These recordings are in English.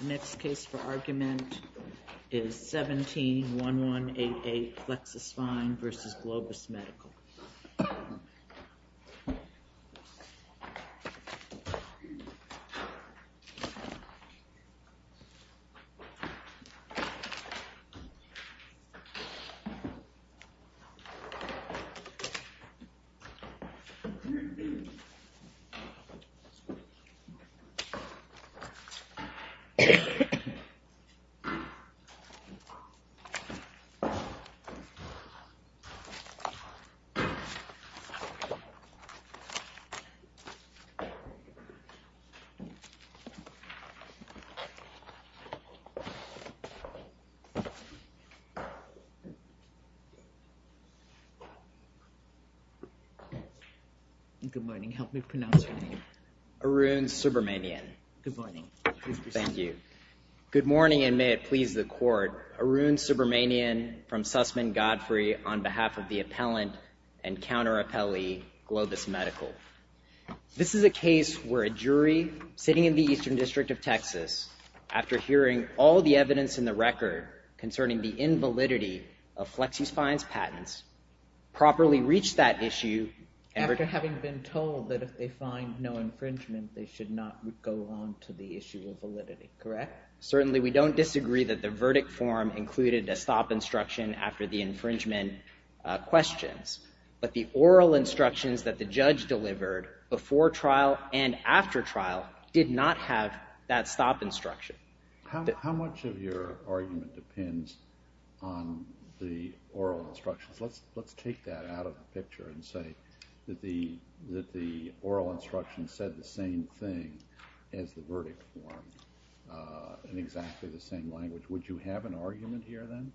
The next case for argument is 17-1188 Flexus Spine v. Globus Medical. Good morning, help me pronounce your name. Arun Subramanian. Good morning. Thank you. Good morning and may it please the court. Arun Subramanian from Sussman Godfrey on behalf of the appellant and counter-appellee Globus Medical. This is a case where a jury sitting in the Eastern District of Texas, after hearing all the evidence in the record concerning the invalidity of Flexus Spine's patents, properly reached that issue. After having been told that if they find no infringement, they should not go on to the issue of validity, correct? Certainly, we don't disagree that the verdict form included a stop instruction after the infringement questions, but the oral instructions that the judge delivered before trial and after trial did not have that stop instruction. How much of your argument depends on the oral instructions? Let's take that out of the picture and say that the oral instructions said the same thing as the verdict form in exactly the same language. Would you have an argument here then?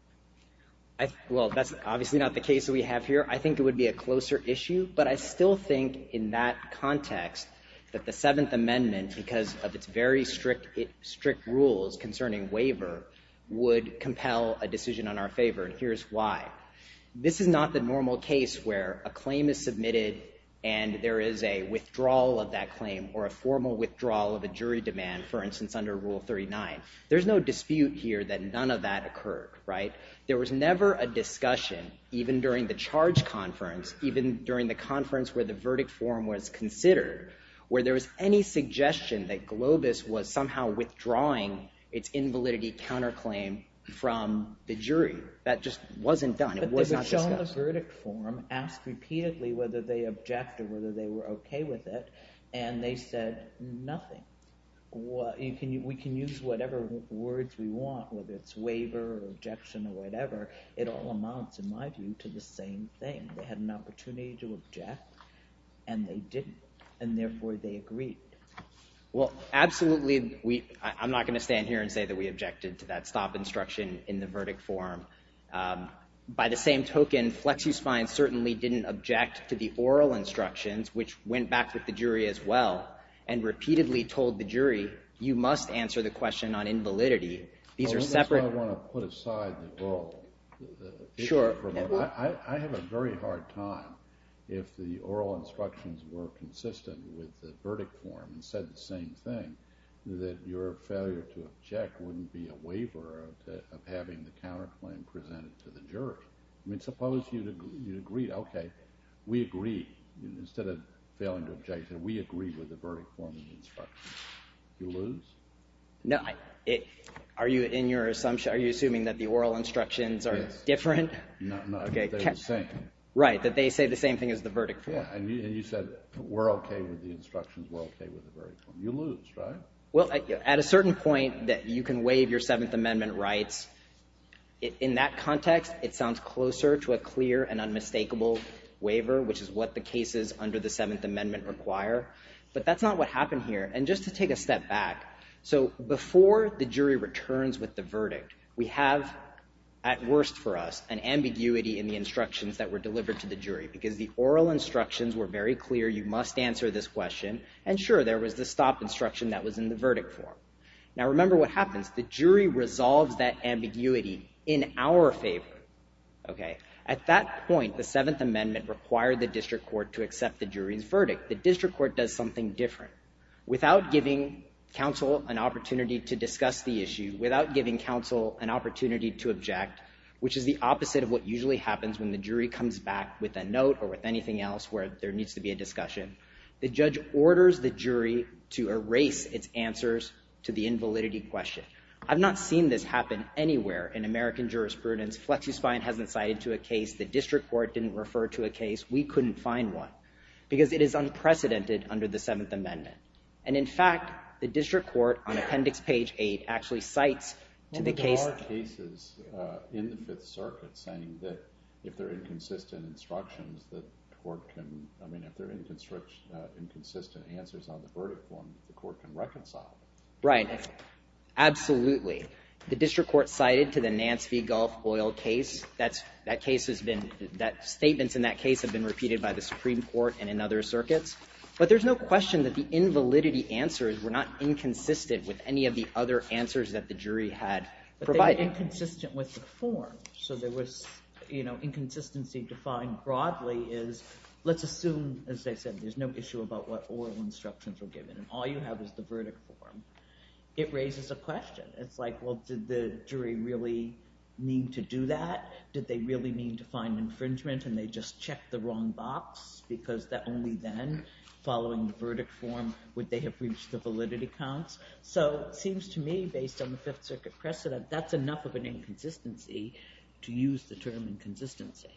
Well, that's obviously not the case that we have here. I think it would be a closer issue, but I still think in that context that the Seventh Amendment, because of its very strict rules concerning waiver, would compel a decision in our favor, and here's why. This is not the normal case where a claim is submitted and there is a withdrawal of that claim or a formal withdrawal of a jury demand, for instance, under Rule 39. There's no dispute here that none of that occurred, right? There was never a discussion, even during the charge conference, even during the conference where the verdict form was considered, where there was any suggestion that Globus was somehow withdrawing its invalidity counterclaim from the jury. That just wasn't done. It was not discussed. But they were shown the verdict form, asked repeatedly whether they object or whether they were okay with it, and they said nothing. We can use whatever words we want, whether it's waiver or objection or whatever. It all amounts, in my view, to the same thing. They had an opportunity to object, and they didn't, and therefore they agreed. Well, absolutely. I'm not going to stand here and say that we objected to that stop instruction in the verdict form. By the same token, Flexus Fine certainly didn't object to the oral instructions, which went back with the jury as well, and repeatedly told the jury, you must answer the question on invalidity. That's why I want to put aside the oral issue. I have a very hard time if the oral instructions were consistent with the verdict form and said the same thing, that your failure to object wouldn't be a waiver of having the counterclaim presented to the jury. Suppose you agreed, okay, we agreed. Instead of failing to object, we agreed with the verdict form and instructions. You lose? No. Are you assuming that the oral instructions are different? No, that they're the same. Right, that they say the same thing as the verdict form. Yeah, and you said we're okay with the instructions, we're okay with the verdict form. You lose, right? Well, at a certain point, you can waive your Seventh Amendment rights. In that context, it sounds closer to a clear and unmistakable waiver, which is what the cases under the Seventh Amendment require. But that's not what happened here. And just to take a step back, so before the jury returns with the verdict, we have, at worst for us, an ambiguity in the instructions that were delivered to the jury because the oral instructions were very clear, you must answer this question, and sure, there was the stop instruction that was in the verdict form. Now, remember what happens. The jury resolves that ambiguity in our favor, okay? At that point, the Seventh Amendment required the district court to accept the jury's verdict. The district court does something different. Without giving counsel an opportunity to discuss the issue, without giving counsel an opportunity to object, which is the opposite of what usually happens when the jury comes back with a note or with anything else where there needs to be a discussion, the judge orders the jury to erase its answers to the invalidity question. I've not seen this happen anywhere in American jurisprudence. FlexiSpine hasn't cited to a case. The district court didn't refer to a case. We couldn't find one because it is unprecedented under the Seventh Amendment. And, in fact, the district court, on Appendix Page 8, actually cites to the case. Well, there are cases in the Fifth Circuit saying that if there are inconsistent instructions that the court can, I mean, if there are inconsistent answers on the verdict form, the court can reconcile. Right. Absolutely. The district court cited to the Nance v. Gulf Oil case. That case has been, statements in that case have been repeated by the Supreme Court and in other circuits. But there's no question that the invalidity answers were not inconsistent with any of the other answers that the jury had provided. But they were inconsistent with the form. So there was, you know, inconsistency defined broadly is, let's assume, as I said, there's no issue about what oral instructions were given and all you have is the verdict form. It raises a question. It's like, well, did the jury really mean to do that? Did they really mean to find infringement and they just checked the wrong box because only then, following the verdict form, would they have reached the validity counts? So it seems to me, based on the Fifth Circuit precedent, that's enough of an inconsistency to use the term inconsistency.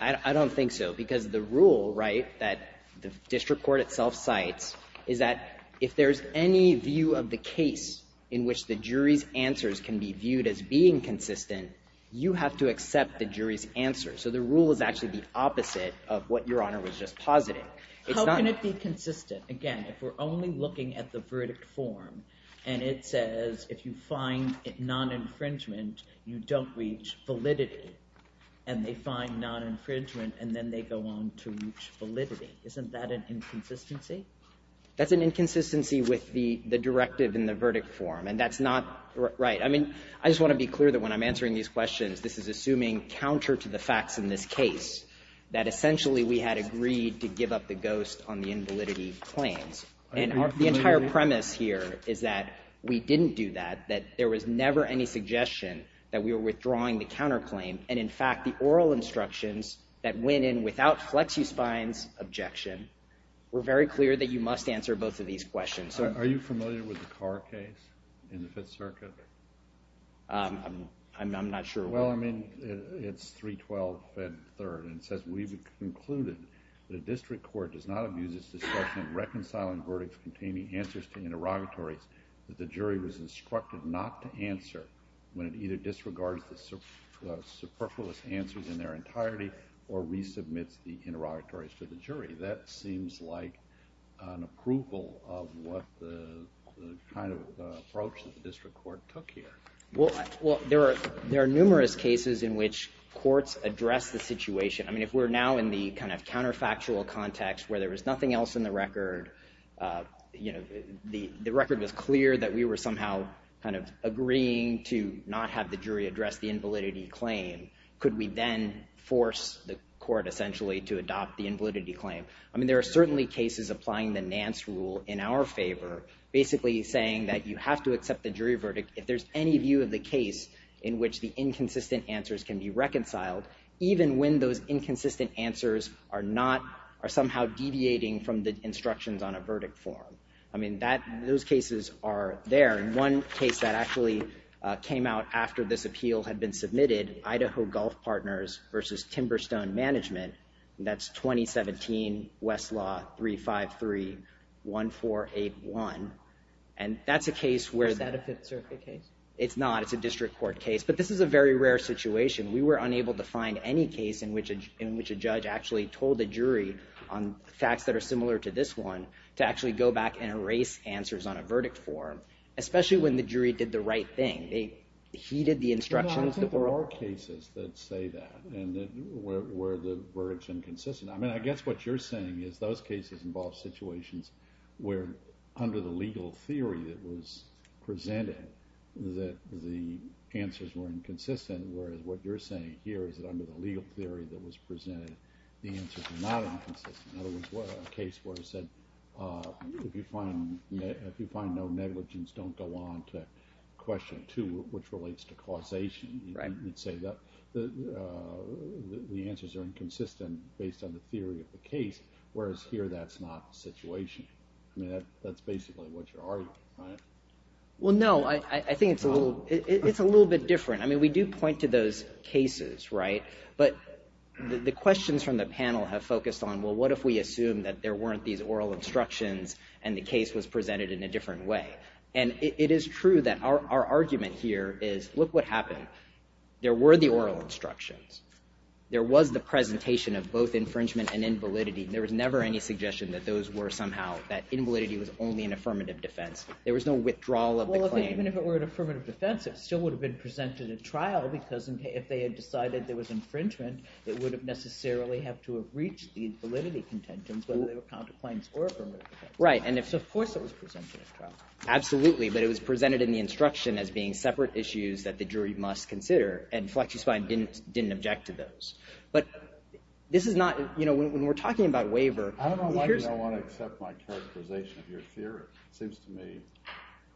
I don't think so because the rule, right, that the district court itself cites is that if there's any view of the case in which the jury's answers can be viewed as being consistent, you have to accept the jury's answer. So the rule is actually the opposite of what Your Honor was just positing. How can it be consistent? Again, if we're only looking at the verdict form and it says if you find non-infringement, you don't reach validity, and they find non-infringement and then they go on to reach validity, isn't that an inconsistency? That's an inconsistency with the directive in the verdict form and that's not right. I mean, I just want to be clear that when I'm answering these questions, this is assuming counter to the facts in this case that essentially we had agreed to give up the ghost on the invalidity claims. And the entire premise here is that we didn't do that, that there was never any suggestion that we were withdrawing the counterclaim. And in fact, the oral instructions that went in without FlexiSpine's objection were very clear that you must answer both of these questions. Are you familiar with the Carr case in the Fifth Circuit? I'm not sure. Well, I mean, it's 312 Fed 3rd and it says we've concluded that a district court does not abuse its discretion in reconciling verdicts containing answers to interrogatories that the jury was instructed not to answer when it either disregards or resubmits the interrogatories to the jury. That seems like an approval of what the kind of approach that the district court took here. Well, there are numerous cases in which courts address the situation. I mean, if we're now in the kind of counterfactual context where there was nothing else in the record, you know, the record was clear that we were somehow kind of agreeing to not have the jury address the invalidity claim, could we then force the court essentially to adopt the invalidity claim? I mean, there are certainly cases applying the Nance rule in our favor, basically saying that you have to accept the jury verdict if there's any view of the case in which the inconsistent answers can be reconciled, even when those inconsistent answers are somehow deviating from the instructions on a verdict form. I mean, those cases are there. One case that actually came out after this appeal had been submitted, Idaho Golf Partners v. Timberstone Management, and that's 2017 Westlaw 353-1481, and that's a case where... Is that a Fifth Circuit case? It's not. It's a district court case. But this is a very rare situation. We were unable to find any case in which a judge actually told the jury on facts that are similar to this one to actually go back and erase answers on a verdict form, especially when the jury did the right thing. They heeded the instructions. There are cases that say that, and where the verdict's inconsistent. I mean, I guess what you're saying is those cases involve situations where under the legal theory that was presented that the answers were inconsistent, whereas what you're saying here is that under the legal theory that was presented, the answers were not inconsistent. In other words, a case where it said, if you find no negligence, don't go on to question 2, which relates to causation. You'd say that the answers are inconsistent based on the theory of the case, whereas here that's not the situation. I mean, that's basically what you're arguing, right? Well, no, I think it's a little bit different. I mean, we do point to those cases, right? But the questions from the panel have focused on, well, what if we assume that there weren't these oral instructions and the case was presented in a different way? And it is true that our argument here is, look what happened. There were the oral instructions. There was the presentation of both infringement and invalidity. There was never any suggestion that those were somehow... that invalidity was only an affirmative defense. There was no withdrawal of the claim. Well, even if it were an affirmative defense, it still would have been presented at trial because if they had decided there was infringement, it would have necessarily have to have reached these validity contentions, whether they were counterclaims or validity. Right, and of course it was presented at trial. Absolutely, but it was presented in the instruction as being separate issues that the jury must consider, and FlexiSpine didn't object to those. But this is not... You know, when we're talking about waiver... I don't know why you don't want to accept my characterization of your theory. It seems to me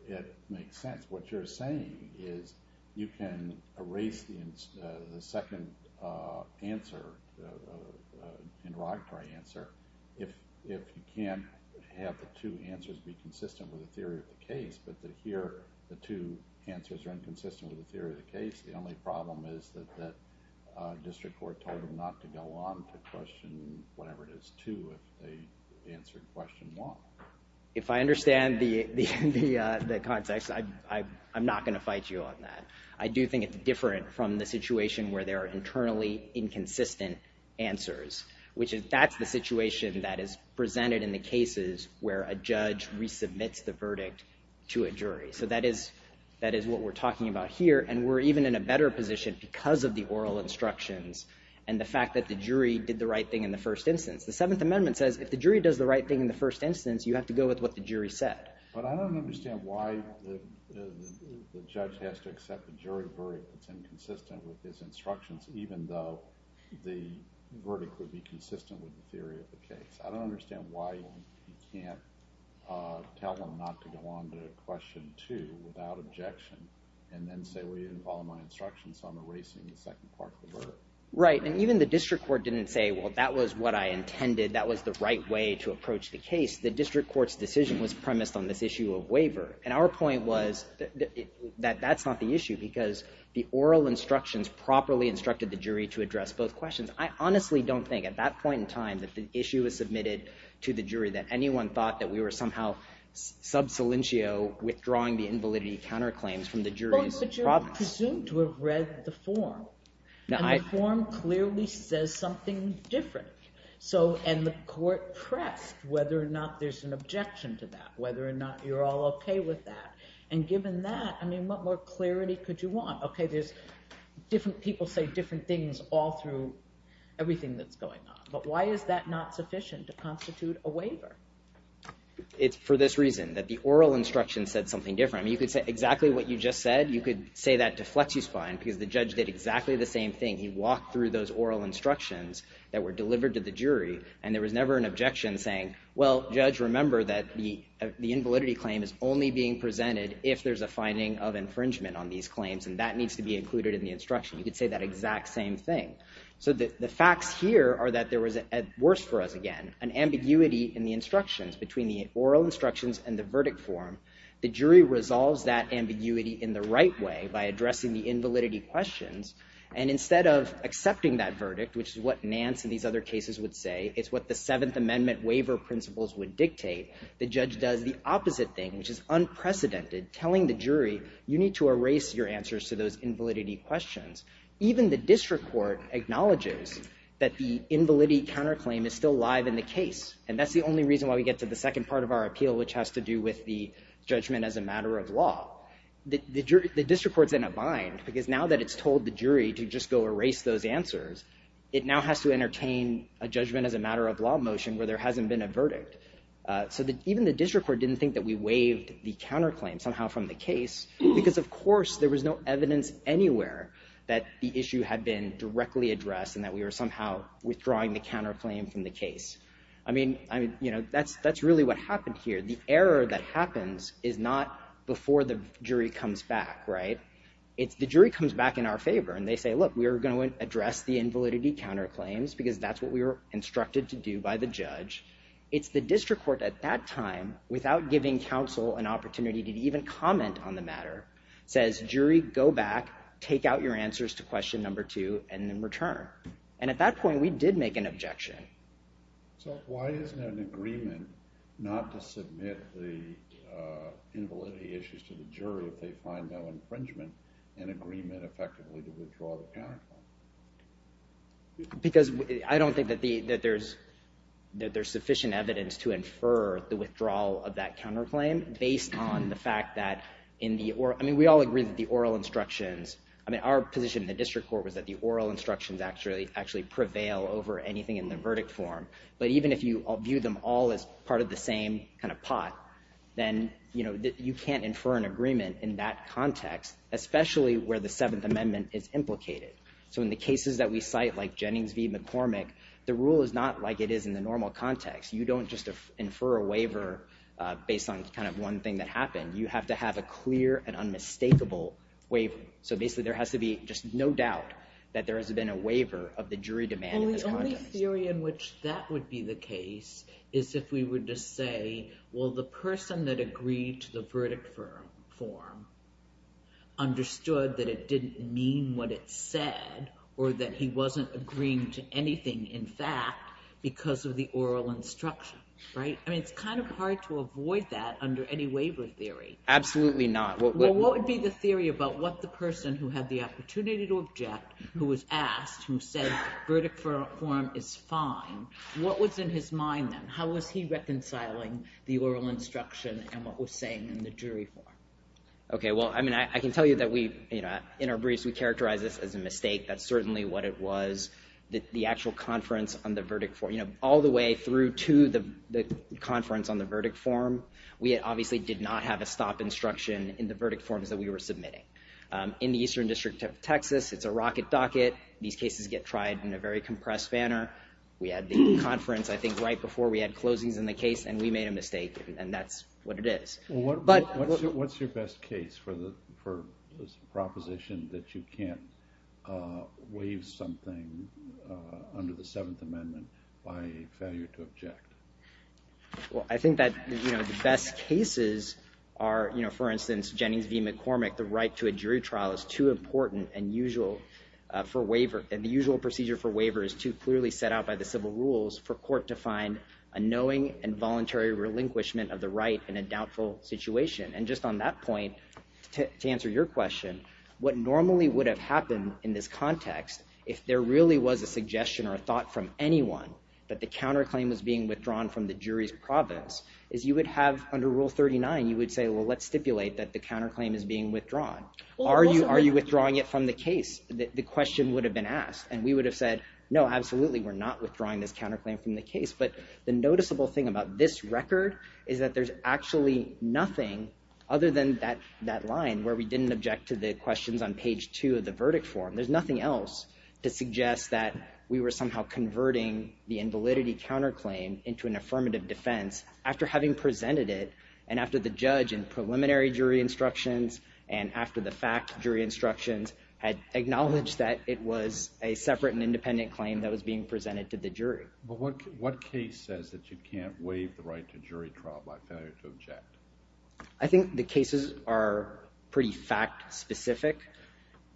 it makes sense. What you're saying is you can erase the second answer, interrogatory answer, if you can't have the two answers be consistent with the theory of the case, but that here the two answers are inconsistent with the theory of the case. The only problem is that district court told them not to go on to question whatever it is to if they answered question one. If I understand the context, I'm not going to fight you on that. I do think it's different from the situation where there are internally inconsistent answers. That's the situation that is presented in the cases where a judge resubmits the verdict to a jury. So that is what we're talking about here, and we're even in a better position because of the oral instructions and the fact that the jury did the right thing in the first instance. The Seventh Amendment says if the jury does the right thing in the first instance, you have to go with what the jury said. But I don't understand why the judge has to accept the jury verdict that's inconsistent with his instructions even though the verdict would be consistent with the theory of the case. I don't understand why you can't tell them not to go on to question two without objection and then say, well, you didn't follow my instructions, so I'm erasing the second part of the verdict. Right, and even the district court didn't say, well, that was what I intended. That was the right way to approach the case. The district court's decision was premised on this issue of waiver, and our point was that that's not the issue because the oral instructions properly instructed the jury to address both questions. I honestly don't think at that point in time that the issue was submitted to the jury that anyone thought that we were somehow sub salientio withdrawing the invalidity counterclaims from the jury's province. But you're presumed to have read the form, and the form clearly says something different, and the court pressed whether or not there's an objection to that, and whether or not you're all okay with that. And given that, I mean, what more clarity could you want? Okay, there's different people say different things all through everything that's going on, but why is that not sufficient to constitute a waiver? It's for this reason, that the oral instruction said something different. I mean, you could say exactly what you just said. You could say that to flex your spine because the judge did exactly the same thing. He walked through those oral instructions that were delivered to the jury, and there was never an objection saying, well, judge, remember that the invalidity claim is only being presented if there's a finding of infringement on these claims, and that needs to be included in the instruction. You could say that exact same thing. So the facts here are that there was, worse for us again, an ambiguity in the instructions between the oral instructions and the verdict form. The jury resolves that ambiguity in the right way by addressing the invalidity questions, and instead of accepting that verdict, which is what Nance and these other cases would say, it's what the Seventh Amendment waiver principles would dictate, the judge does the opposite thing, which is unprecedented, telling the jury, you need to erase your answers to those invalidity questions. Even the district court acknowledges that the invalidity counterclaim is still live in the case, and that's the only reason why we get to the second part of our appeal, which has to do with the judgment as a matter of law. The district court's in a bind because now that it's told the jury to just go erase those answers, it now has to entertain a judgment as a matter of law motion where there hasn't been a verdict. So even the district court didn't think that we waived the counterclaim somehow from the case, because of course there was no evidence anywhere that the issue had been directly addressed and that we were somehow withdrawing the counterclaim from the case. I mean, that's really what happened here. The error that happens is not before the jury comes back, right? It's the jury comes back in our favor, and they say, look, we are going to address the invalidity counterclaims, because that's what we were instructed to do by the judge. It's the district court at that time, without giving counsel an opportunity to even comment on the matter, says, jury, go back, take out your answers to question number two, and then return. And at that point, we did make an objection. So why isn't there an agreement not to submit the invalidity issues to the jury if they find no infringement, why isn't there an agreement effectively to withdraw the counterclaim? Because I don't think that there's sufficient evidence to infer the withdrawal of that counterclaim based on the fact that in the, I mean, we all agree that the oral instructions, I mean, our position in the district court was that the oral instructions actually prevail over anything in the verdict form. But even if you view them all as part of the same kind of pot, then you can't infer an agreement in that context, especially where the Seventh Amendment is implicated. So in the cases that we cite, like Jennings v. McCormick, the rule is not like it is in the normal context. You don't just infer a waiver based on kind of one thing that happened. You have to have a clear and unmistakable waiver. So basically, there has to be just no doubt that there has been a waiver of the jury demand in this context. Well, the only theory in which that would be the case is if we were to say, well, the person that agreed to the verdict form understood that it didn't mean what it said or that he wasn't agreeing to anything in fact because of the oral instruction, right? I mean, it's kind of hard to avoid that under any waiver theory. Absolutely not. Well, what would be the theory about what the person who had the opportunity to object, who was asked, who said verdict form is fine, what was in his mind then? How was he reconciling the oral instruction and what was saying in the jury form? Okay, well, I mean, I can tell you that we, in our briefs, we characterize this as a mistake. That's certainly what it was. The actual conference on the verdict form, all the way through to the conference on the verdict form, we obviously did not have a stop instruction in the verdict forms that we were submitting. In the Eastern District of Texas, it's a rocket docket. These cases get tried in a very compressed manner. We had the conference, I think, right before we had closings in the case and we made a mistake and that's what it is. What's your best case for this proposition that you can't waive something under the Seventh Amendment by failure to object? Well, I think that the best cases are, for instance, Jennings v. McCormick, the right to a jury trial is too important and the usual procedure for waiver is too clearly set out by the civil rules for court to find a knowing and voluntary relinquishment of the right in a doubtful situation. And just on that point, to answer your question, what normally would have happened in this context if there really was a suggestion or a thought from anyone that the counterclaim was being withdrawn from the jury's province is you would have, under Rule 39, you would say, well, let's stipulate that the counterclaim is being withdrawn. Are you withdrawing it from the case? The question would have been asked and we would have said, no, absolutely, we're not withdrawing this counterclaim from the case, but the noticeable thing about this record is that there's actually nothing other than that line where we didn't object to the questions on page 2 of the verdict form. There's nothing else to suggest that we were somehow converting the invalidity counterclaim into an affirmative defense after having presented it and after the judge in preliminary jury instructions and after the fact jury instructions that was being presented to the jury. But what case says that you can't waive the right to jury trial by failure to object? I think the cases are pretty fact-specific,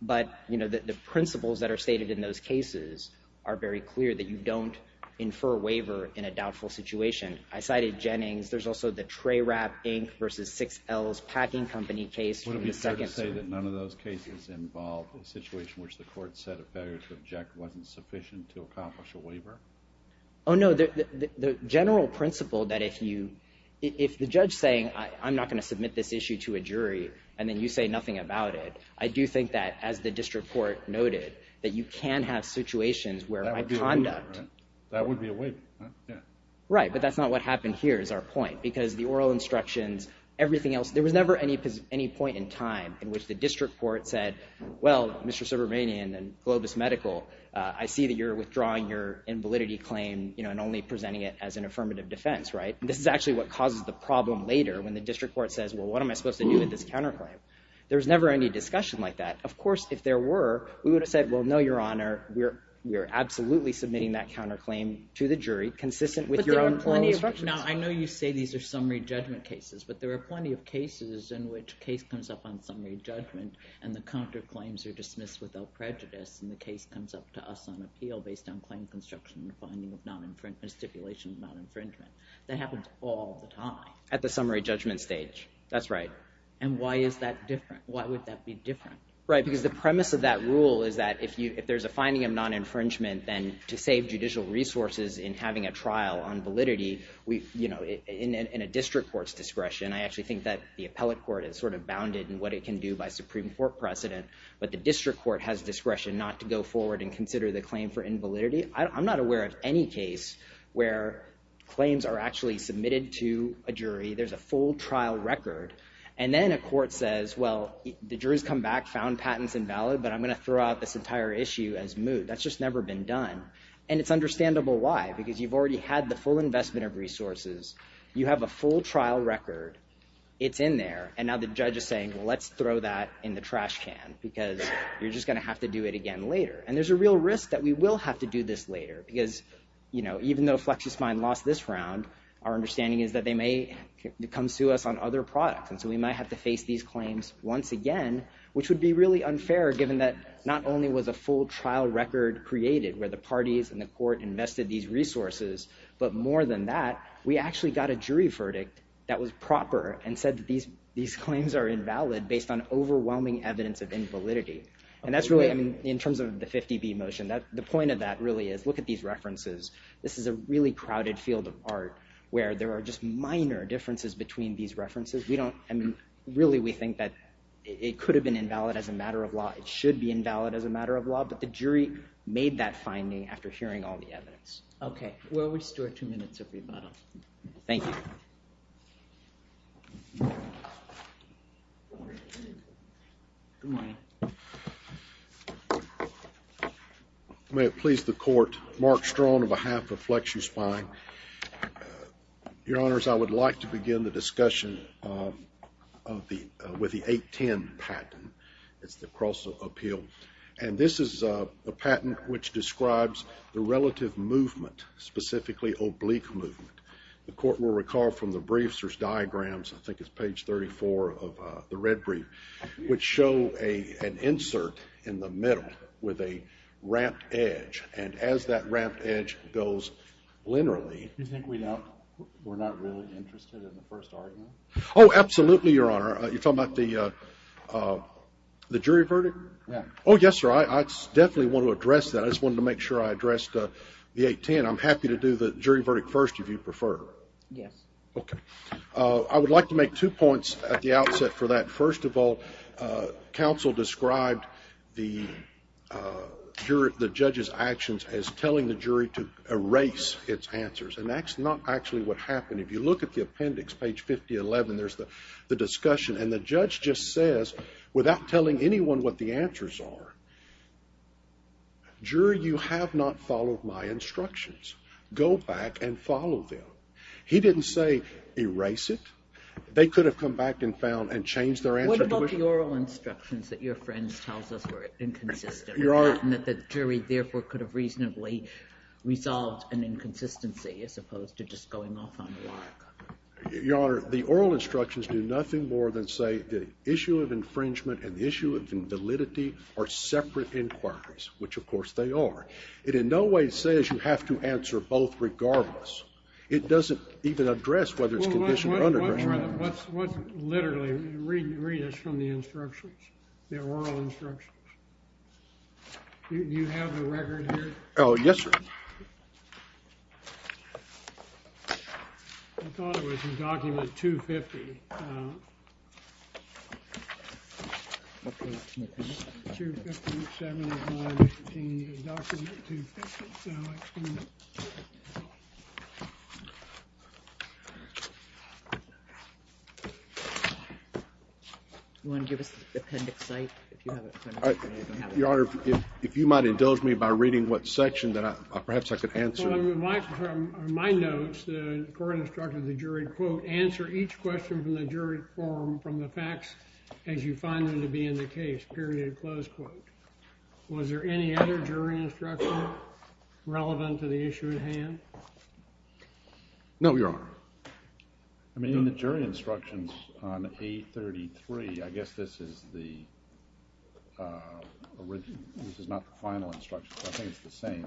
but the principles that are stated in those cases are very clear that you don't infer waiver in a doubtful situation. I cited Jennings. There's also the Trey Rapp, Inc. versus 6L's Packing Company case. Would it be fair to say that none of those cases involved a situation which the court said a failure to object wasn't sufficient to accomplish a waiver? Oh, no. The general principle that if the judge is saying, I'm not going to submit this issue to a jury and then you say nothing about it, I do think that, as the district court noted, that you can have situations where my conduct... That would be a waiver, right? That would be a waiver, yeah. Right, but that's not what happened here is our point because the oral instructions, everything else, there was never any point in time in which the district court said, well, Mr. Subramanian and Globus Medical, I see that you're withdrawing your invalidity claim and only presenting it as an affirmative defense, right? This is actually what causes the problem later when the district court says, well, what am I supposed to do with this counterclaim? There was never any discussion like that. Of course, if there were, we would have said, well, no, Your Honor, we're absolutely submitting that counterclaim to the jury consistent with your own oral instructions. Now, I know you say these are summary judgment cases, but there are plenty of cases in which a case comes up on summary judgment and the counterclaims are dismissed without prejudice and the case comes up to us on appeal based on claim construction and finding of stipulation of non-infringement. That happens all the time. At the summary judgment stage, that's right. And why is that different? Why would that be different? Right, because the premise of that rule is that if there's a finding of non-infringement, then to save judicial resources in having a trial on validity, in a district court's discretion, I actually think that the appellate court is sort of bounded in what it can do by Supreme Court precedent, but the district court has discretion not to go forward and consider the claim for invalidity. I'm not aware of any case where claims are actually submitted to a jury. There's a full trial record. And then a court says, well, the jury's come back, found patent's invalid, but I'm going to throw out this entire issue as moot. That's just never been done. And it's understandable why, because you've already had the full investment of resources. You have a full trial record. It's in there. And now the judge is saying, well, let's throw that in the trash can, because you're just going to have to do it again later. And there's a real risk that we will have to do this later, because even though FlexiSmine lost this round, our understanding is that they may come sue us on other products. And so we might have to face these claims once again, which would be really unfair, given that not only was a full trial record created, where the parties and the court invested these resources, but more than that, we actually got a jury verdict that was proper and said that these claims are invalid based on overwhelming evidence of invalidity. And that's really, I mean, in terms of the 50B motion, the point of that really is, look at these references. This is a really crowded field of art where there are just minor differences between these references. We don't, I mean, really, we think that it could have been invalid as a matter of law. It should be invalid as a matter of law, but the jury made that finding after hearing all the evidence. Okay. We'll restore two minutes of rebuttal. Thank you. Good morning. May it please the court, Mark Strong on behalf of FlexuSpine. Your honors, I would like to begin the discussion with the 810 patent. It's the cross of appeal. And this is a patent which describes the relative movement, specifically oblique movement. The court will recall from the briefs, there's diagrams, I think it's page 34 of the red brief, which show an insert in the middle with a ramped edge. And as that ramped edge goes linearly... You think we're not really interested in the first argument? Oh, absolutely, Your Honor. You're talking about the jury verdict? Oh, yes, sir. I definitely want to address that. I just wanted to make sure I addressed the 810. I'm happy to do the jury verdict first if you prefer. Yes. Okay. I would like to make two points at the outset for that. First of all, counsel described the judge's actions as telling the jury to erase its answers, and that's not actually what happened. If you look at the appendix, page 5011, there's the discussion, and the judge just says, without telling anyone what the answers are, jury, you have not followed my instructions. Go back and follow them. He didn't say erase it. They could have come back and found and changed their answer. What about the oral instructions that your friend tells us were inconsistent and that the jury therefore could have reasonably resolved an inconsistency as opposed to just going off on a lag? Your Honor, the oral instructions do nothing more than say the issue of infringement and the issue of validity are separate inquiries, which, of course, they are. It in no way says you have to answer both regardless. It doesn't even address whether it's conditioned or unaddressed. Well, what's literally, read us from the instructions, the oral instructions. Do you have the record here? Oh, yes, sir. I thought it was in document 250. Do you want to give us the appendix site if you have it? Your Honor, if you might indulge me by reading what section that perhaps I could answer. Well, in my notes, the court instructed the jury, quote, answer each question from the jury forum from the facts as you find them to be in the case, period, close quote. Was there any other jury instruction relevant to the issue at hand? No, Your Honor. I mean, in the jury instructions on A33, I guess this is the original. This is not the final instruction, but I think it's the same.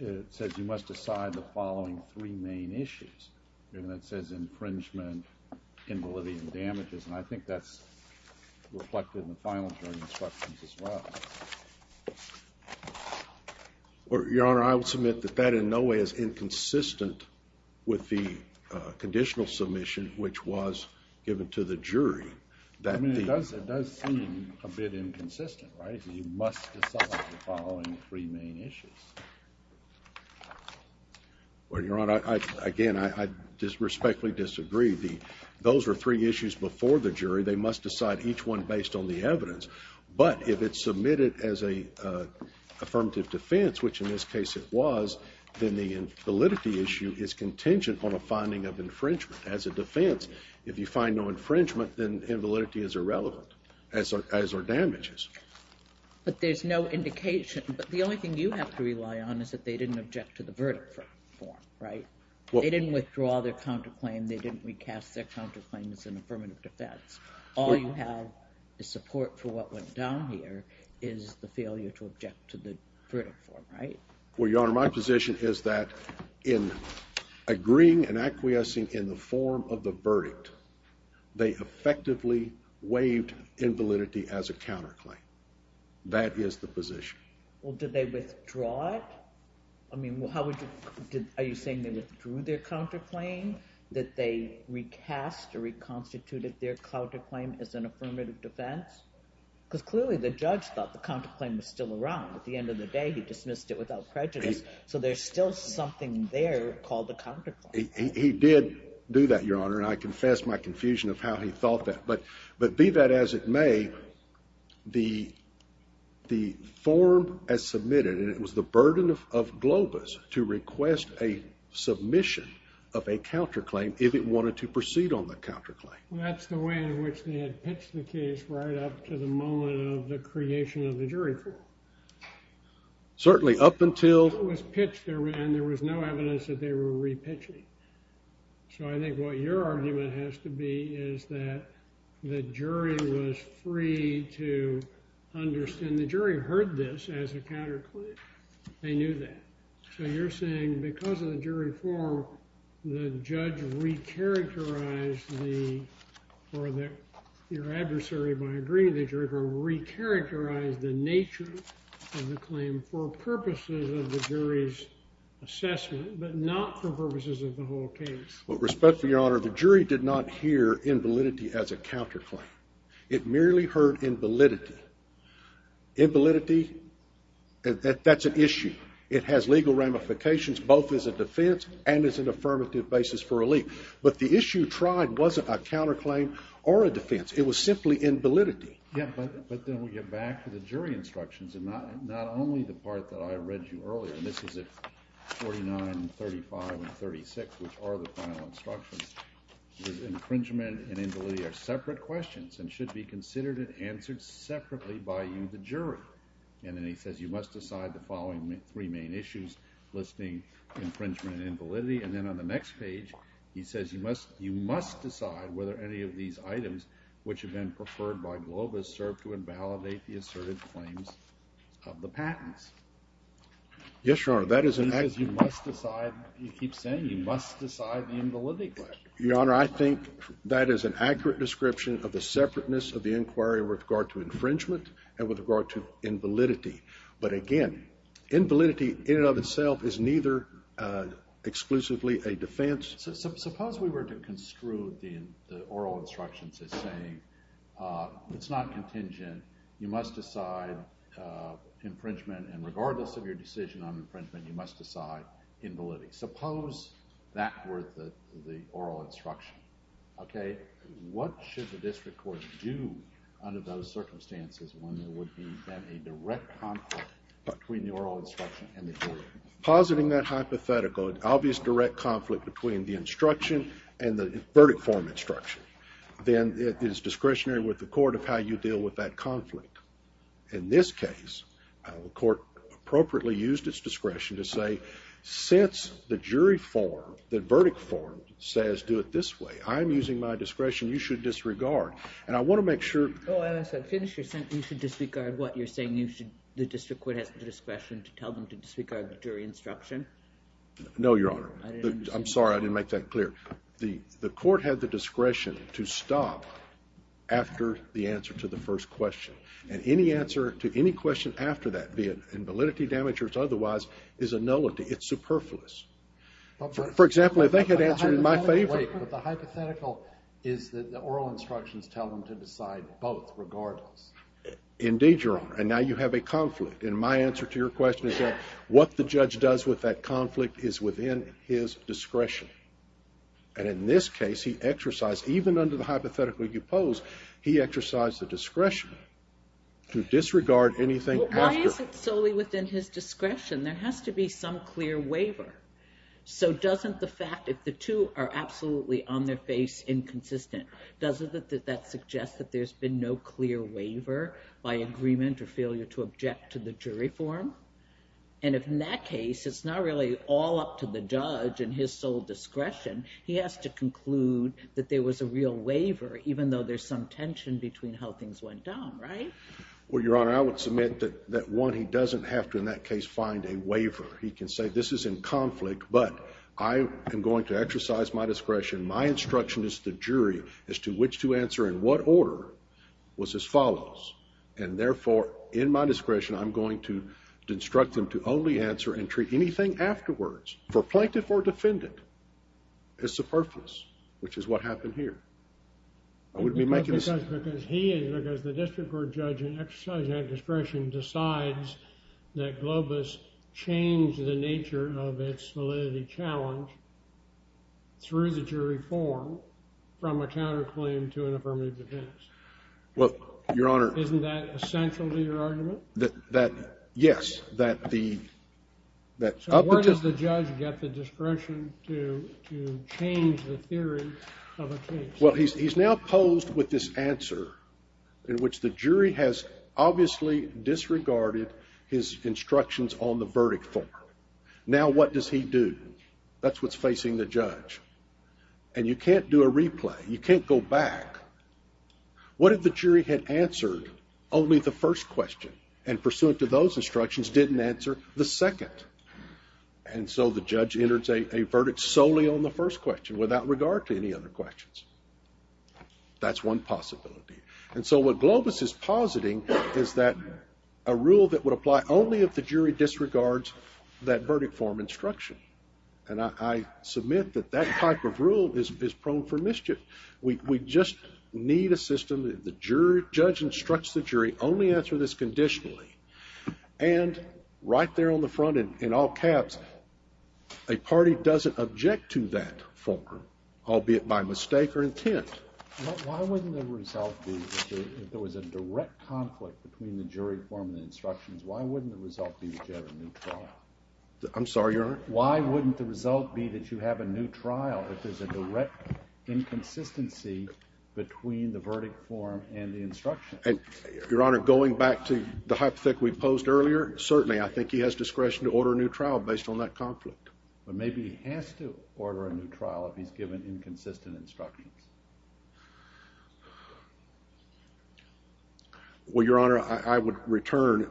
It says you must decide the following three main issues. And that says infringement, invalidity, and damages. And I think that's reflected in the final jury instructions as well. Your Honor, I would submit that that in no way is inconsistent with the conditional submission, which was given to the jury. I mean, it does seem a bit inconsistent, right? You must decide the following three main issues. Well, Your Honor, again, I respectfully disagree. Those were three issues before the jury. They must decide each one based on the evidence. But if it's submitted as an affirmative defense, which in this case it was, then the validity issue is contingent on a finding of infringement. As a defense, if you find no infringement, then invalidity is irrelevant as are damages. But there's no indication. But the only thing you have to rely on is that they didn't object to the verdict form, right? They didn't withdraw their counterclaim. They didn't recast their counterclaim as an affirmative defense. All you have is support for what went down here is the failure to object to the verdict form, right? Well, Your Honor, my position is that in agreeing and acquiescing in the form of the verdict, they effectively waived invalidity as a counterclaim. That is the position. Well, did they withdraw it? I mean, are you saying they withdrew their counterclaim, that they recast or reconstituted their counterclaim as an affirmative defense? Because clearly the judge thought the counterclaim was still around. At the end of the day, he dismissed it without prejudice, so there's still something there called the counterclaim. He did do that, Your Honor, and I confess my confusion of how he thought that. But be that as it may, the form as submitted, and it was the burden of Globus to request a submission of a counterclaim if it wanted to proceed on the counterclaim. Well, that's the way in which they had pitched the case right up to the moment of the creation of the jury court. Certainly, up until... So I think what your argument has to be is that the jury was free to understand. The jury heard this as a counterclaim. They knew that. So you're saying because of the jury form, the judge recharacterized the... or your adversary, by agreeing to the jury court, recharacterized the nature of the claim for purposes of the jury's assessment, but not for purposes of the whole case? Well, respectfully, Your Honor, the jury did not hear invalidity as a counterclaim. It merely heard invalidity. Invalidity, that's an issue. It has legal ramifications both as a defense and as an affirmative basis for a leak. But the issue tried wasn't a counterclaim or a defense. It was simply invalidity. Yeah, but then we get back to the jury instructions, and not only the part that I read to you earlier. This is at 49, 35, and 36, which are the final instructions. It says infringement and invalidity are separate questions and should be considered and answered separately by you, the jury. And then he says you must decide the following three main issues listing infringement and invalidity. And then on the next page, he says you must decide whether any of these items, which have been preferred by Globus, serve to invalidate the asserted claims of the patents. Yes, Your Honor. He says you must decide. He keeps saying you must decide the invalidity question. Your Honor, I think that is an accurate description of the separateness of the inquiry with regard to infringement and with regard to invalidity. But again, invalidity in and of itself is neither exclusively a defense. Suppose we were to construe the oral instructions as saying it's not contingent, you must decide infringement, and regardless of your decision on infringement, you must decide invalidity. Suppose that were the oral instruction. Okay, what should the district court do under those circumstances when there would be then a direct conflict between the oral instruction and the jury? Positing that hypothetical, an obvious direct conflict between the instruction and the verdict form instruction, then it is discretionary with the court of how you deal with that conflict. In this case, the court appropriately used its discretion to say since the jury form, the verdict form, says do it this way, I'm using my discretion, you should disregard. And I want to make sure. Oh, as I finished your sentence, you should disregard what? You're saying the district court has the discretion to tell them to disregard the jury instruction? No, Your Honor. I'm sorry. I didn't make that clear. The court had the discretion to stop after the answer to the first question. And any answer to any question after that, be it in validity, damage, or otherwise, is a nullity. It's superfluous. For example, if they had answered in my favor. Wait, but the hypothetical is that the oral instructions tell them to decide both regardless. Indeed, Your Honor. And now you have a conflict. And my answer to your question is that what the judge does with that conflict is within his discretion. And in this case, he exercised, even under the hypothetical you pose, he exercised the discretion to disregard anything after. Why is it solely within his discretion? There has to be some clear waiver. So doesn't the fact that the two are absolutely on their face inconsistent, doesn't that suggest that there's been no clear waiver by agreement or failure to object to the jury form? And if, in that case, it's not really all up to the judge and his sole discretion, he has to conclude that there was a real waiver, even though there's some tension between how things went down, right? Well, Your Honor, I would submit that, one, he doesn't have to, in that case, find a waiver. He can say this is in conflict, but I am going to exercise my discretion. My instruction as the jury as to which to answer in what order was as follows. And therefore, in my discretion, I'm going to instruct him to only answer and treat anything afterwards, for plaintiff or defendant, as superfluous, which is what happened here. I wouldn't be making this up. Because he is, because the district court judge in exercising that discretion decides that Globus changed the nature of its validity challenge through the jury form from a counterclaim to an affirmative defense. Well, Your Honor. Isn't that essential to your argument? That, yes. So where does the judge get the discretion to change the theory of a case? Well, he's now posed with this answer in which the jury has obviously disregarded his instructions on the verdict form. Now what does he do? That's what's facing the judge. And you can't do a replay. You can't go back. What if the jury had answered only the first question and pursuant to those instructions didn't answer the second? And so the judge enters a verdict solely on the first question without regard to any other questions. That's one possibility. And so what Globus is positing is that a rule that would apply only if the jury disregards that verdict form instruction. And I submit that that type of rule is prone for mischief. We just need a system that the judge instructs the jury only answer this conditionally. And right there on the front, in all caps, a party doesn't object to that form, albeit by mistake or intent. Why wouldn't the result be if there was a direct conflict between the jury form and the instructions, why wouldn't the result be a judge neutral? I'm sorry, Your Honor? Why wouldn't the result be that you have a neutral if there's a direct inconsistency between the verdict form and the instructions? Your Honor, going back to the hypothetic we posed earlier, certainly I think he has discretion to order a neutral based on that conflict. But maybe he has to order a neutral if he's given inconsistent instructions. Well, Your Honor, I would return,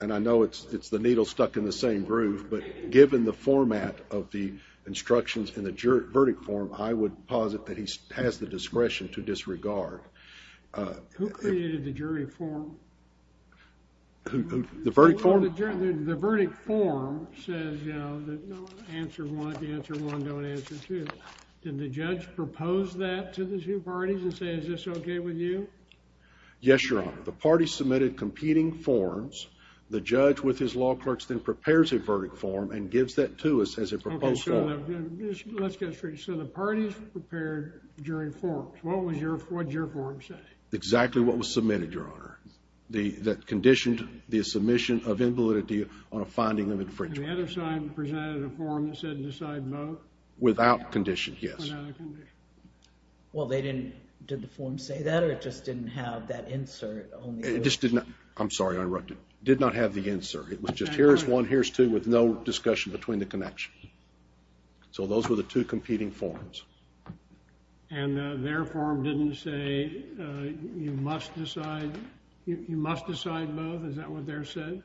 and I know it's the needle stuck in the same groove, but given the format of the instructions in the verdict form, I would posit that he has the discretion to disregard. Who created the jury form? The verdict form? The verdict form says, you know, answer one, answer one, don't answer two. Did the judge propose that to the two parties and say, is this okay with you? Yes, Your Honor. The parties submitted competing forms. The judge with his law clerks then prepares a verdict form and gives that to us as a proposed form. Okay, so let's get straight. So the parties prepared jury forms. What did your form say? Exactly what was submitted, Your Honor, that conditioned the submission of invalidity on a finding of infringement. And the other side presented a form that said decide both? Without condition, yes. Without a condition. Well, they didn't, did the form say that or it just didn't have that insert? It just did not, I'm sorry, I interrupted. It did not have the insert. It was just here's one, here's two with no discussion between the connections. So those were the two competing forms. And their form didn't say you must decide, you must decide both? Is that what their said?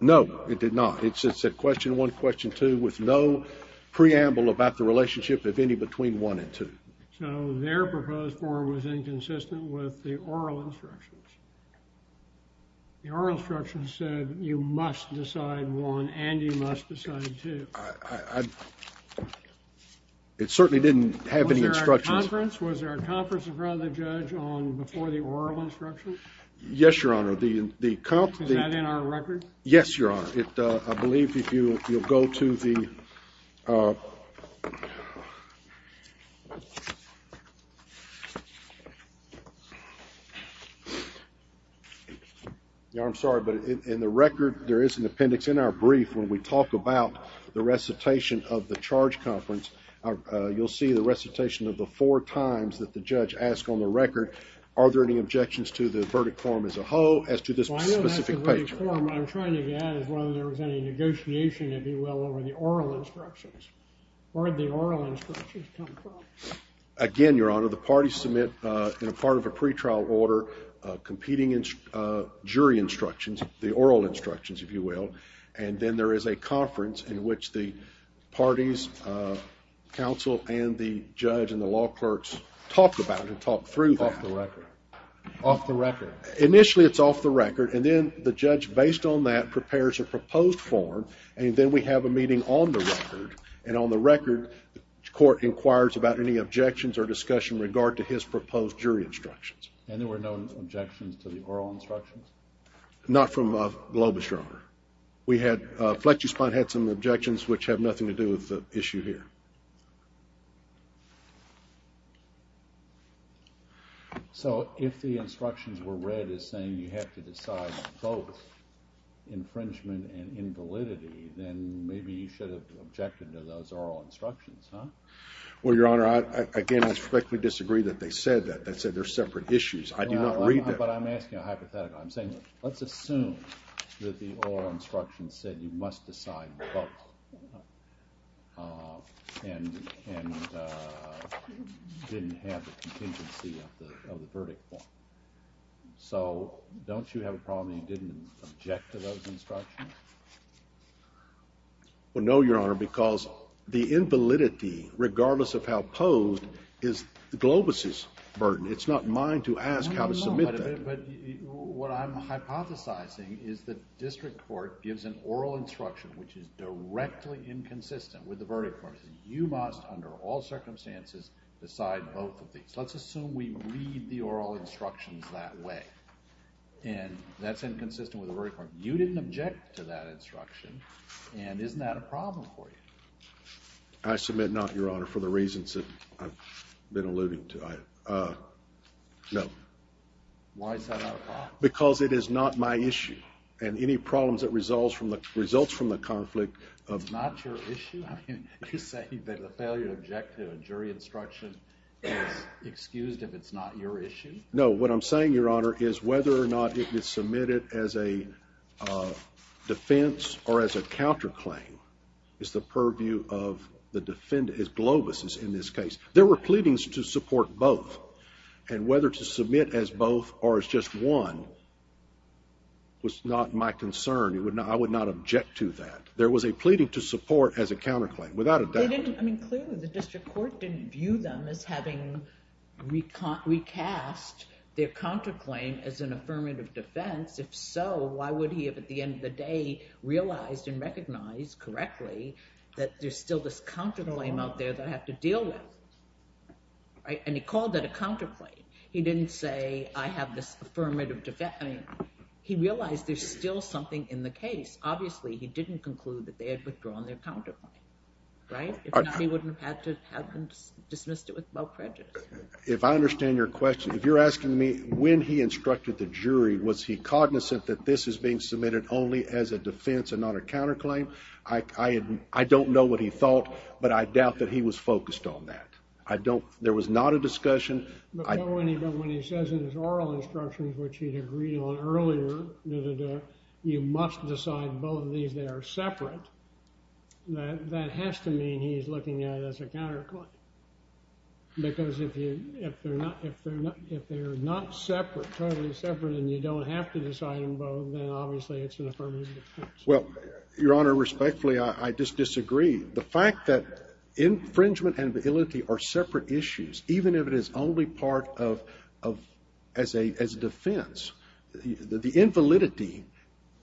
No, it did not. It said question one, question two with no preamble about the relationship, if any, between one and two. So their proposed form was inconsistent with the oral instructions. The oral instructions said you must decide one and you must decide two. It certainly didn't have any instructions. Was there a conference? Was there a conference in front of the judge on before the oral instructions? Yes, Your Honor. Is that in our record? Yes, Your Honor. Your Honor, I believe if you'll go to the, Your Honor, I'm sorry, but in the record there is an appendix in our brief when we talk about the recitation of the charge conference. You'll see the recitation of the four times that the judge asked on the record are there any objections to the verdict form as a whole as to this specific page? The verdict form I'm trying to get at is whether there was any negotiation, if you will, over the oral instructions. Where did the oral instructions come from? Again, Your Honor, the parties submit, in a part of a pretrial order, competing jury instructions, the oral instructions, if you will, and then there is a conference in which the parties, counsel, and the judge and the law clerks talked about it and talked through that. Off the record. Off the record. Initially it's off the record, and then the judge, based on that, prepares a proposed form, and then we have a meeting on the record, and on the record the court inquires about any objections or discussion in regard to his proposed jury instructions. And there were no objections to the oral instructions? Not from Globus, Your Honor. Fletcherspine had some objections, which have nothing to do with the issue here. So if the instructions were read as saying you have to decide both infringement and invalidity, then maybe you should have objected to those oral instructions, huh? Well, Your Honor, again, I respectfully disagree that they said that. They said they're separate issues. I do not read that. But I'm asking a hypothetical. I'm saying let's assume that the oral instructions said you must decide both. And didn't have the contingency of the verdict form. So don't you have a problem that you didn't object to those instructions? Well, no, Your Honor, because the invalidity, regardless of how posed, is Globus' burden. It's not mine to ask how to submit that. But what I'm hypothesizing is that district court gives an oral instruction which is directly inconsistent with the verdict form. It says you must, under all circumstances, decide both of these. Let's assume we read the oral instructions that way, and that's inconsistent with the verdict form. You didn't object to that instruction, and isn't that a problem for you? I submit not, Your Honor, for the reasons that I've been alluding to. No. Why is that not a problem? Because it is not my issue. And any problems that results from the conflict of- It's not your issue? You're saying that a failure to object to a jury instruction is excused if it's not your issue? No. What I'm saying, Your Honor, is whether or not it is submitted as a defense or as a counterclaim is the purview of the defendant. It's Globus' in this case. There were pleadings to support both. And whether to submit as both or as just one was not my concern. I would not object to that. There was a pleading to support as a counterclaim, without a doubt. I mean, clearly, the district court didn't view them as having recast their counterclaim as an affirmative defense. If so, why would he have, at the end of the day, realized and recognized correctly that there's still this counterclaim out there that I have to deal with? And he called that a counterclaim. He didn't say, I have this affirmative defense. He realized there's still something in the case. Obviously, he didn't conclude that they had withdrawn their counterclaim. Right? If not, he wouldn't have had to have dismissed it with no prejudice. If I understand your question, if you're asking me, when he instructed the jury, was he cognizant that this is being submitted only as a defense and not a counterclaim? I don't know what he thought, but I doubt that he was focused on that. I don't. There was not a discussion. But when he says in his oral instructions, which he had agreed on earlier, you must decide both of these. They are separate. That has to mean he's looking at it as a counterclaim. Because if they're not separate, totally separate, and you don't have to decide them both, then obviously, it's an affirmative defense. Well, Your Honor, respectfully, I just disagree. The fact that infringement and validity are separate issues, even if it is only part of as a defense, the invalidity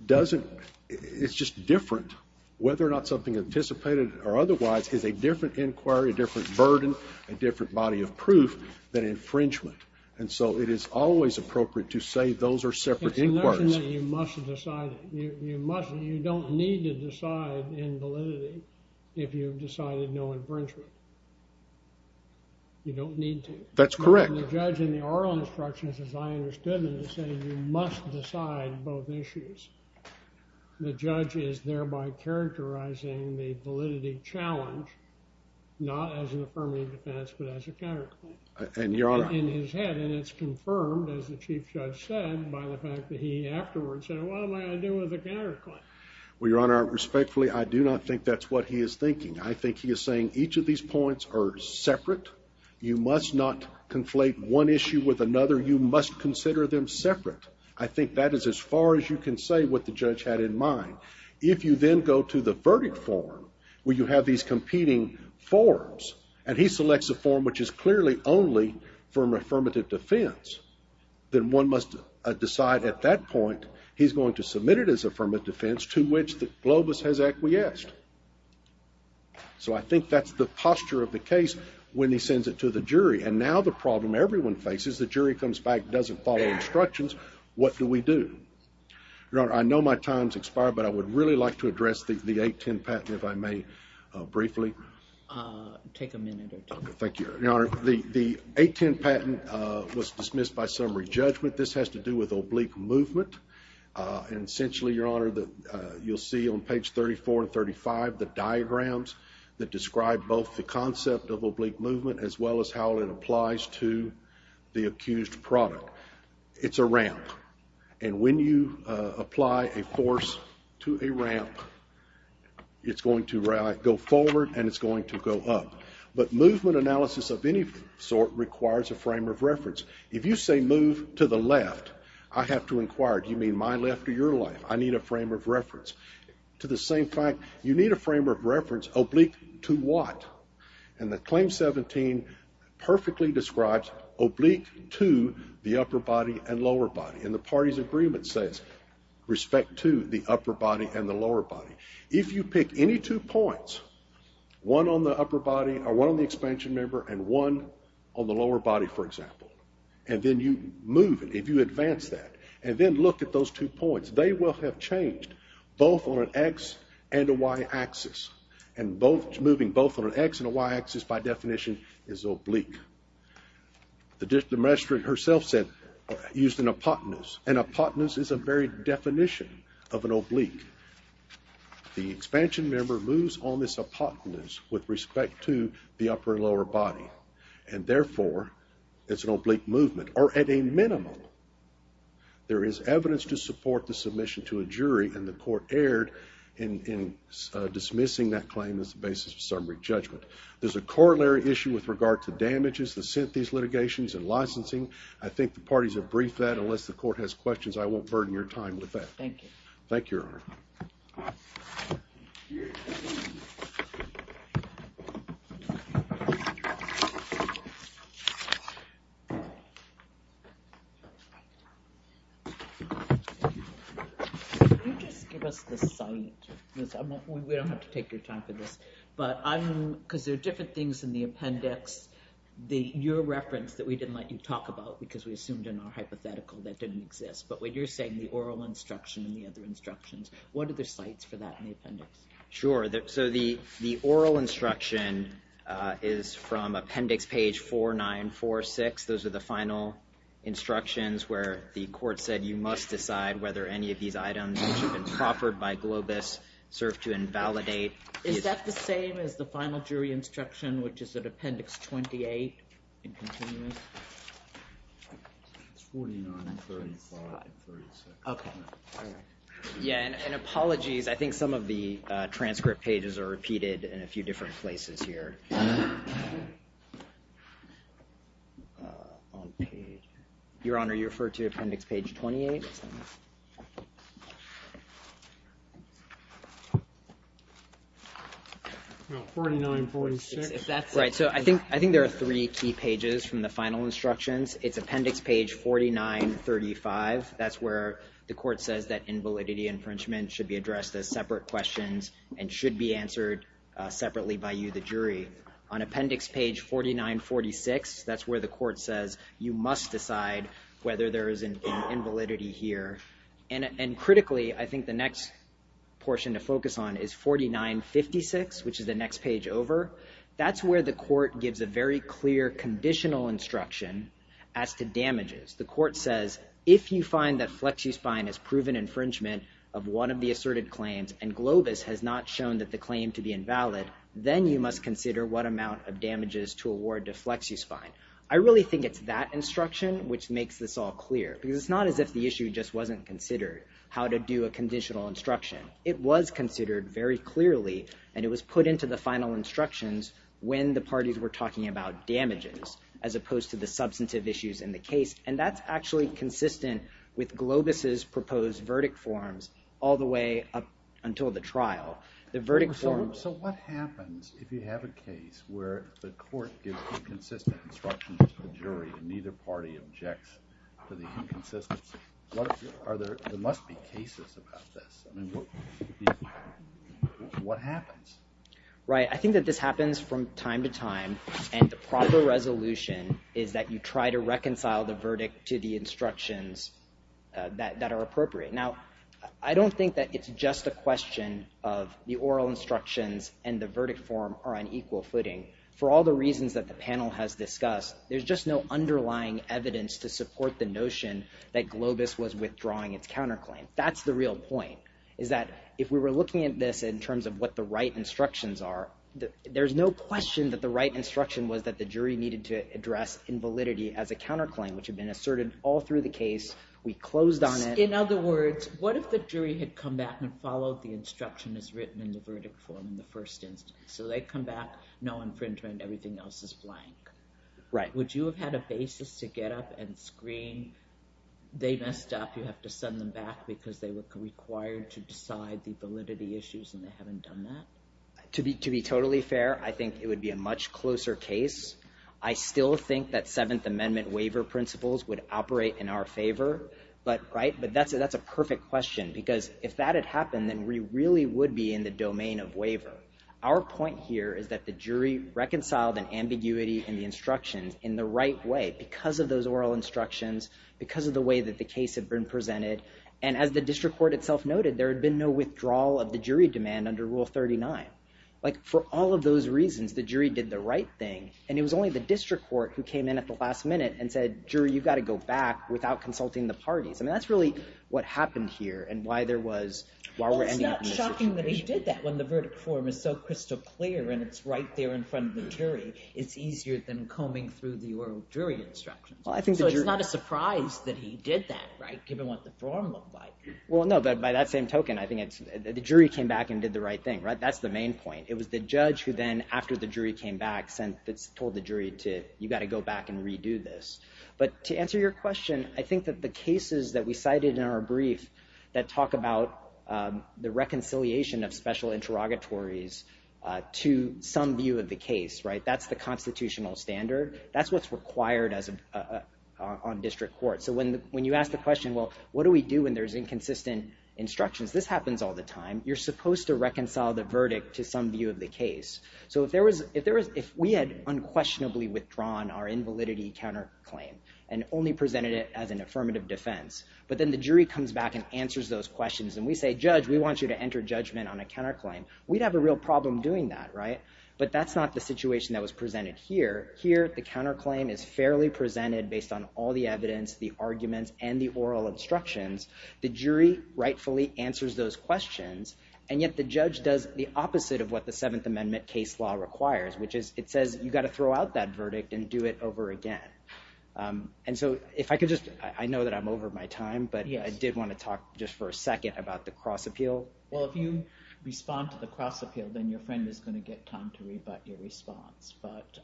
doesn't – it's just different whether or not something anticipated or otherwise is a different inquiry, a different burden, a different body of proof than infringement. And so it is always appropriate to say those are separate inquiries. It doesn't mean that you must decide it. You don't need to decide invalidity if you've decided no infringement. You don't need to. That's correct. But when the judge in the oral instructions, as I understood them, is saying you must decide both issues, the judge is thereby characterizing the validity challenge not as an affirmative defense but as a counterclaim. And, Your Honor – In his head, and it's confirmed, as the Chief Judge said, by the fact that he afterwards said, what am I going to do with the counterclaim? Well, Your Honor, respectfully, I do not think that's what he is thinking. I think he is saying each of these points are separate. You must not conflate one issue with another. You must consider them separate. I think that is as far as you can say what the judge had in mind. If you then go to the verdict form where you have these competing forms and he selects a form which is clearly only for an affirmative defense, then one must decide at that point he is going to submit it as an affirmative defense to which Globus has acquiesced. So I think that's the posture of the case when he sends it to the jury. And now the problem everyone faces, the jury comes back, doesn't follow instructions, what do we do? Your Honor, I know my time has expired, but I would really like to address the 810 patent, if I may, briefly. Take a minute or two. Thank you, Your Honor. Your Honor, the 810 patent was dismissed by summary judgment. This has to do with oblique movement. Essentially, Your Honor, you'll see on page 34 and 35 the diagrams that describe both the concept of oblique movement as well as how it applies to the accused product. It's a ramp, and when you apply a force to a ramp, it's going to go forward and it's going to go up. But movement analysis of any sort requires a frame of reference. If you say move to the left, I have to inquire, do you mean my left or your left? I need a frame of reference. To the same fact, you need a frame of reference, oblique to what? And the Claim 17 perfectly describes oblique to the upper body and lower body. And the party's agreement says respect to the upper body and the lower body. If you pick any two points, one on the expansion member and one on the lower body, for example, and then you move it, if you advance that, and then look at those two points, they will have changed both on an X and a Y axis. And moving both on an X and a Y axis, by definition, is oblique. The magistrate herself said, used an apotenus. An apotenus is a very definition of an oblique. The expansion member moves on this apotenus with respect to the upper and lower body. And therefore, it's an oblique movement. Or at a minimum, there is evidence to support the submission to a jury, and the court erred in dismissing that claim as the basis of summary judgment. There's a corollary issue with regard to damages that sent these litigations and licensing. I think the parties have briefed that. Unless the court has questions, I won't burden your time with that. Thank you. Thank you, Your Honor. Can you just give us the site? We don't have to take your time for this. But I'm, because there are different things in the appendix. Your reference that we didn't let you talk about, because we assumed in our hypothetical that didn't exist. But what you're saying, the oral instruction and the other instructions, what are the sites for that in the appendix? Sure. So the oral instruction is from appendix page 4946. Those are the final instructions where the court said you must decide whether any of these items which have been proffered by Globus serve to invalidate. Is that the same as the final jury instruction, which is at appendix 28, in continuous? It's 49, 35, and 36. Okay. All right. Yeah, and apologies. I think some of the transcript pages are repeated in a few different places here. Your Honor, you referred to appendix page 28? No, 49, 46. Right. So I think there are three key pages from the final instructions. It's appendix page 49, 35. That's where the court says that invalidity infringement should be addressed as separate questions and should be answered separately by you, the jury. On appendix page 49, 46, that's where the court says you must decide whether there is an invalidity here. And critically, I think the next portion to focus on is 49, 56, which is the next page over. That's where the court gives a very clear conditional instruction as to damages. The court says if you find that FlexiSpine has proven infringement of one of the asserted claims and Globus has not shown that the claim to be invalid, then you must consider what amount of damages to award to FlexiSpine. I really think it's that instruction which makes this all clear because it's not as if the issue just wasn't considered how to do a conditional instruction. It was considered very clearly, and it was put into the final instructions when the parties were talking about damages as opposed to the substantive issues in the case, and that's actually consistent with Globus's proposed verdict forms all the way up until the trial. So what happens if you have a case where the court gives inconsistent instructions to the jury and neither party objects to the inconsistency? There must be cases about this. I mean, what happens? Right. I think that this happens from time to time, and the proper resolution is that you try to reconcile the verdict to the instructions that are appropriate. Now, I don't think that it's just a question of the oral instructions and the verdict form are on equal footing. For all the reasons that the panel has discussed, there's just no underlying evidence to support the notion that Globus was withdrawing its counterclaim. That's the real point, is that if we were looking at this in terms of what the right instructions are, there's no question that the right instruction was that the jury needed to address invalidity as a counterclaim, which had been asserted all through the case. We closed on it. In other words, what if the jury had come back and followed the instructions written in the verdict form in the first instance? So they come back, no infringement, everything else is blank. Right. Would you have had a basis to get up and scream, they messed up, you have to send them back because they were required to decide the validity issues and they haven't done that? To be totally fair, I think it would be a much closer case. I still think that Seventh Amendment waiver principles would operate in our favor. But that's a perfect question, because if that had happened, then we really would be in the domain of waiver. But our point here is that the jury reconciled an ambiguity in the instructions in the right way, because of those oral instructions, because of the way that the case had been presented. And as the district court itself noted, there had been no withdrawal of the jury demand under Rule 39. Like, for all of those reasons, the jury did the right thing. And it was only the district court who came in at the last minute and said, jury, you've got to go back without consulting the parties. I mean, that's really what happened here and why there was— It's amazing that he did that when the verdict form is so crystal clear and it's right there in front of the jury. It's easier than combing through the oral jury instructions. So it's not a surprise that he did that, right, given what the form looked like. Well, no, but by that same token, I think the jury came back and did the right thing. That's the main point. It was the judge who then, after the jury came back, told the jury, you've got to go back and redo this. But to answer your question, I think that the cases that we cited in our brief that talk about the reconciliation of special interrogatories to some view of the case, right, that's the constitutional standard. That's what's required on district court. So when you ask the question, well, what do we do when there's inconsistent instructions? This happens all the time. You're supposed to reconcile the verdict to some view of the case. So if we had unquestionably withdrawn our invalidity counterclaim and only presented it as an affirmative defense, but then the jury comes back and answers those questions and we say, judge, we want you to enter judgment on a counterclaim, we'd have a real problem doing that, right? But that's not the situation that was presented here. Here, the counterclaim is fairly presented based on all the evidence, the arguments, and the oral instructions. The jury rightfully answers those questions. And yet the judge does the opposite of what the Seventh Amendment case law requires, which is it says you've got to throw out that verdict and do it over again. And so if I could just, I know that I'm over my time, but I did want to talk just for a second about the cross appeal. Well, if you respond to the cross appeal, then your friend is going to get time to rebut your response, but...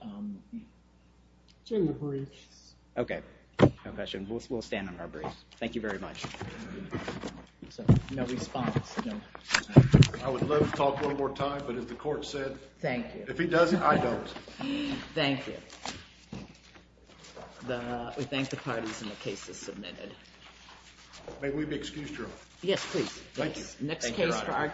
It's in the briefs. Okay. No question. We'll stand on our briefs. Thank you very much. No response. I would love to talk one more time, but as the court said... Thank you. If he doesn't, I don't. Thank you. We thank the parties and the cases submitted. May we be excused, Your Honor? Yes, please. Thank you, Your Honor.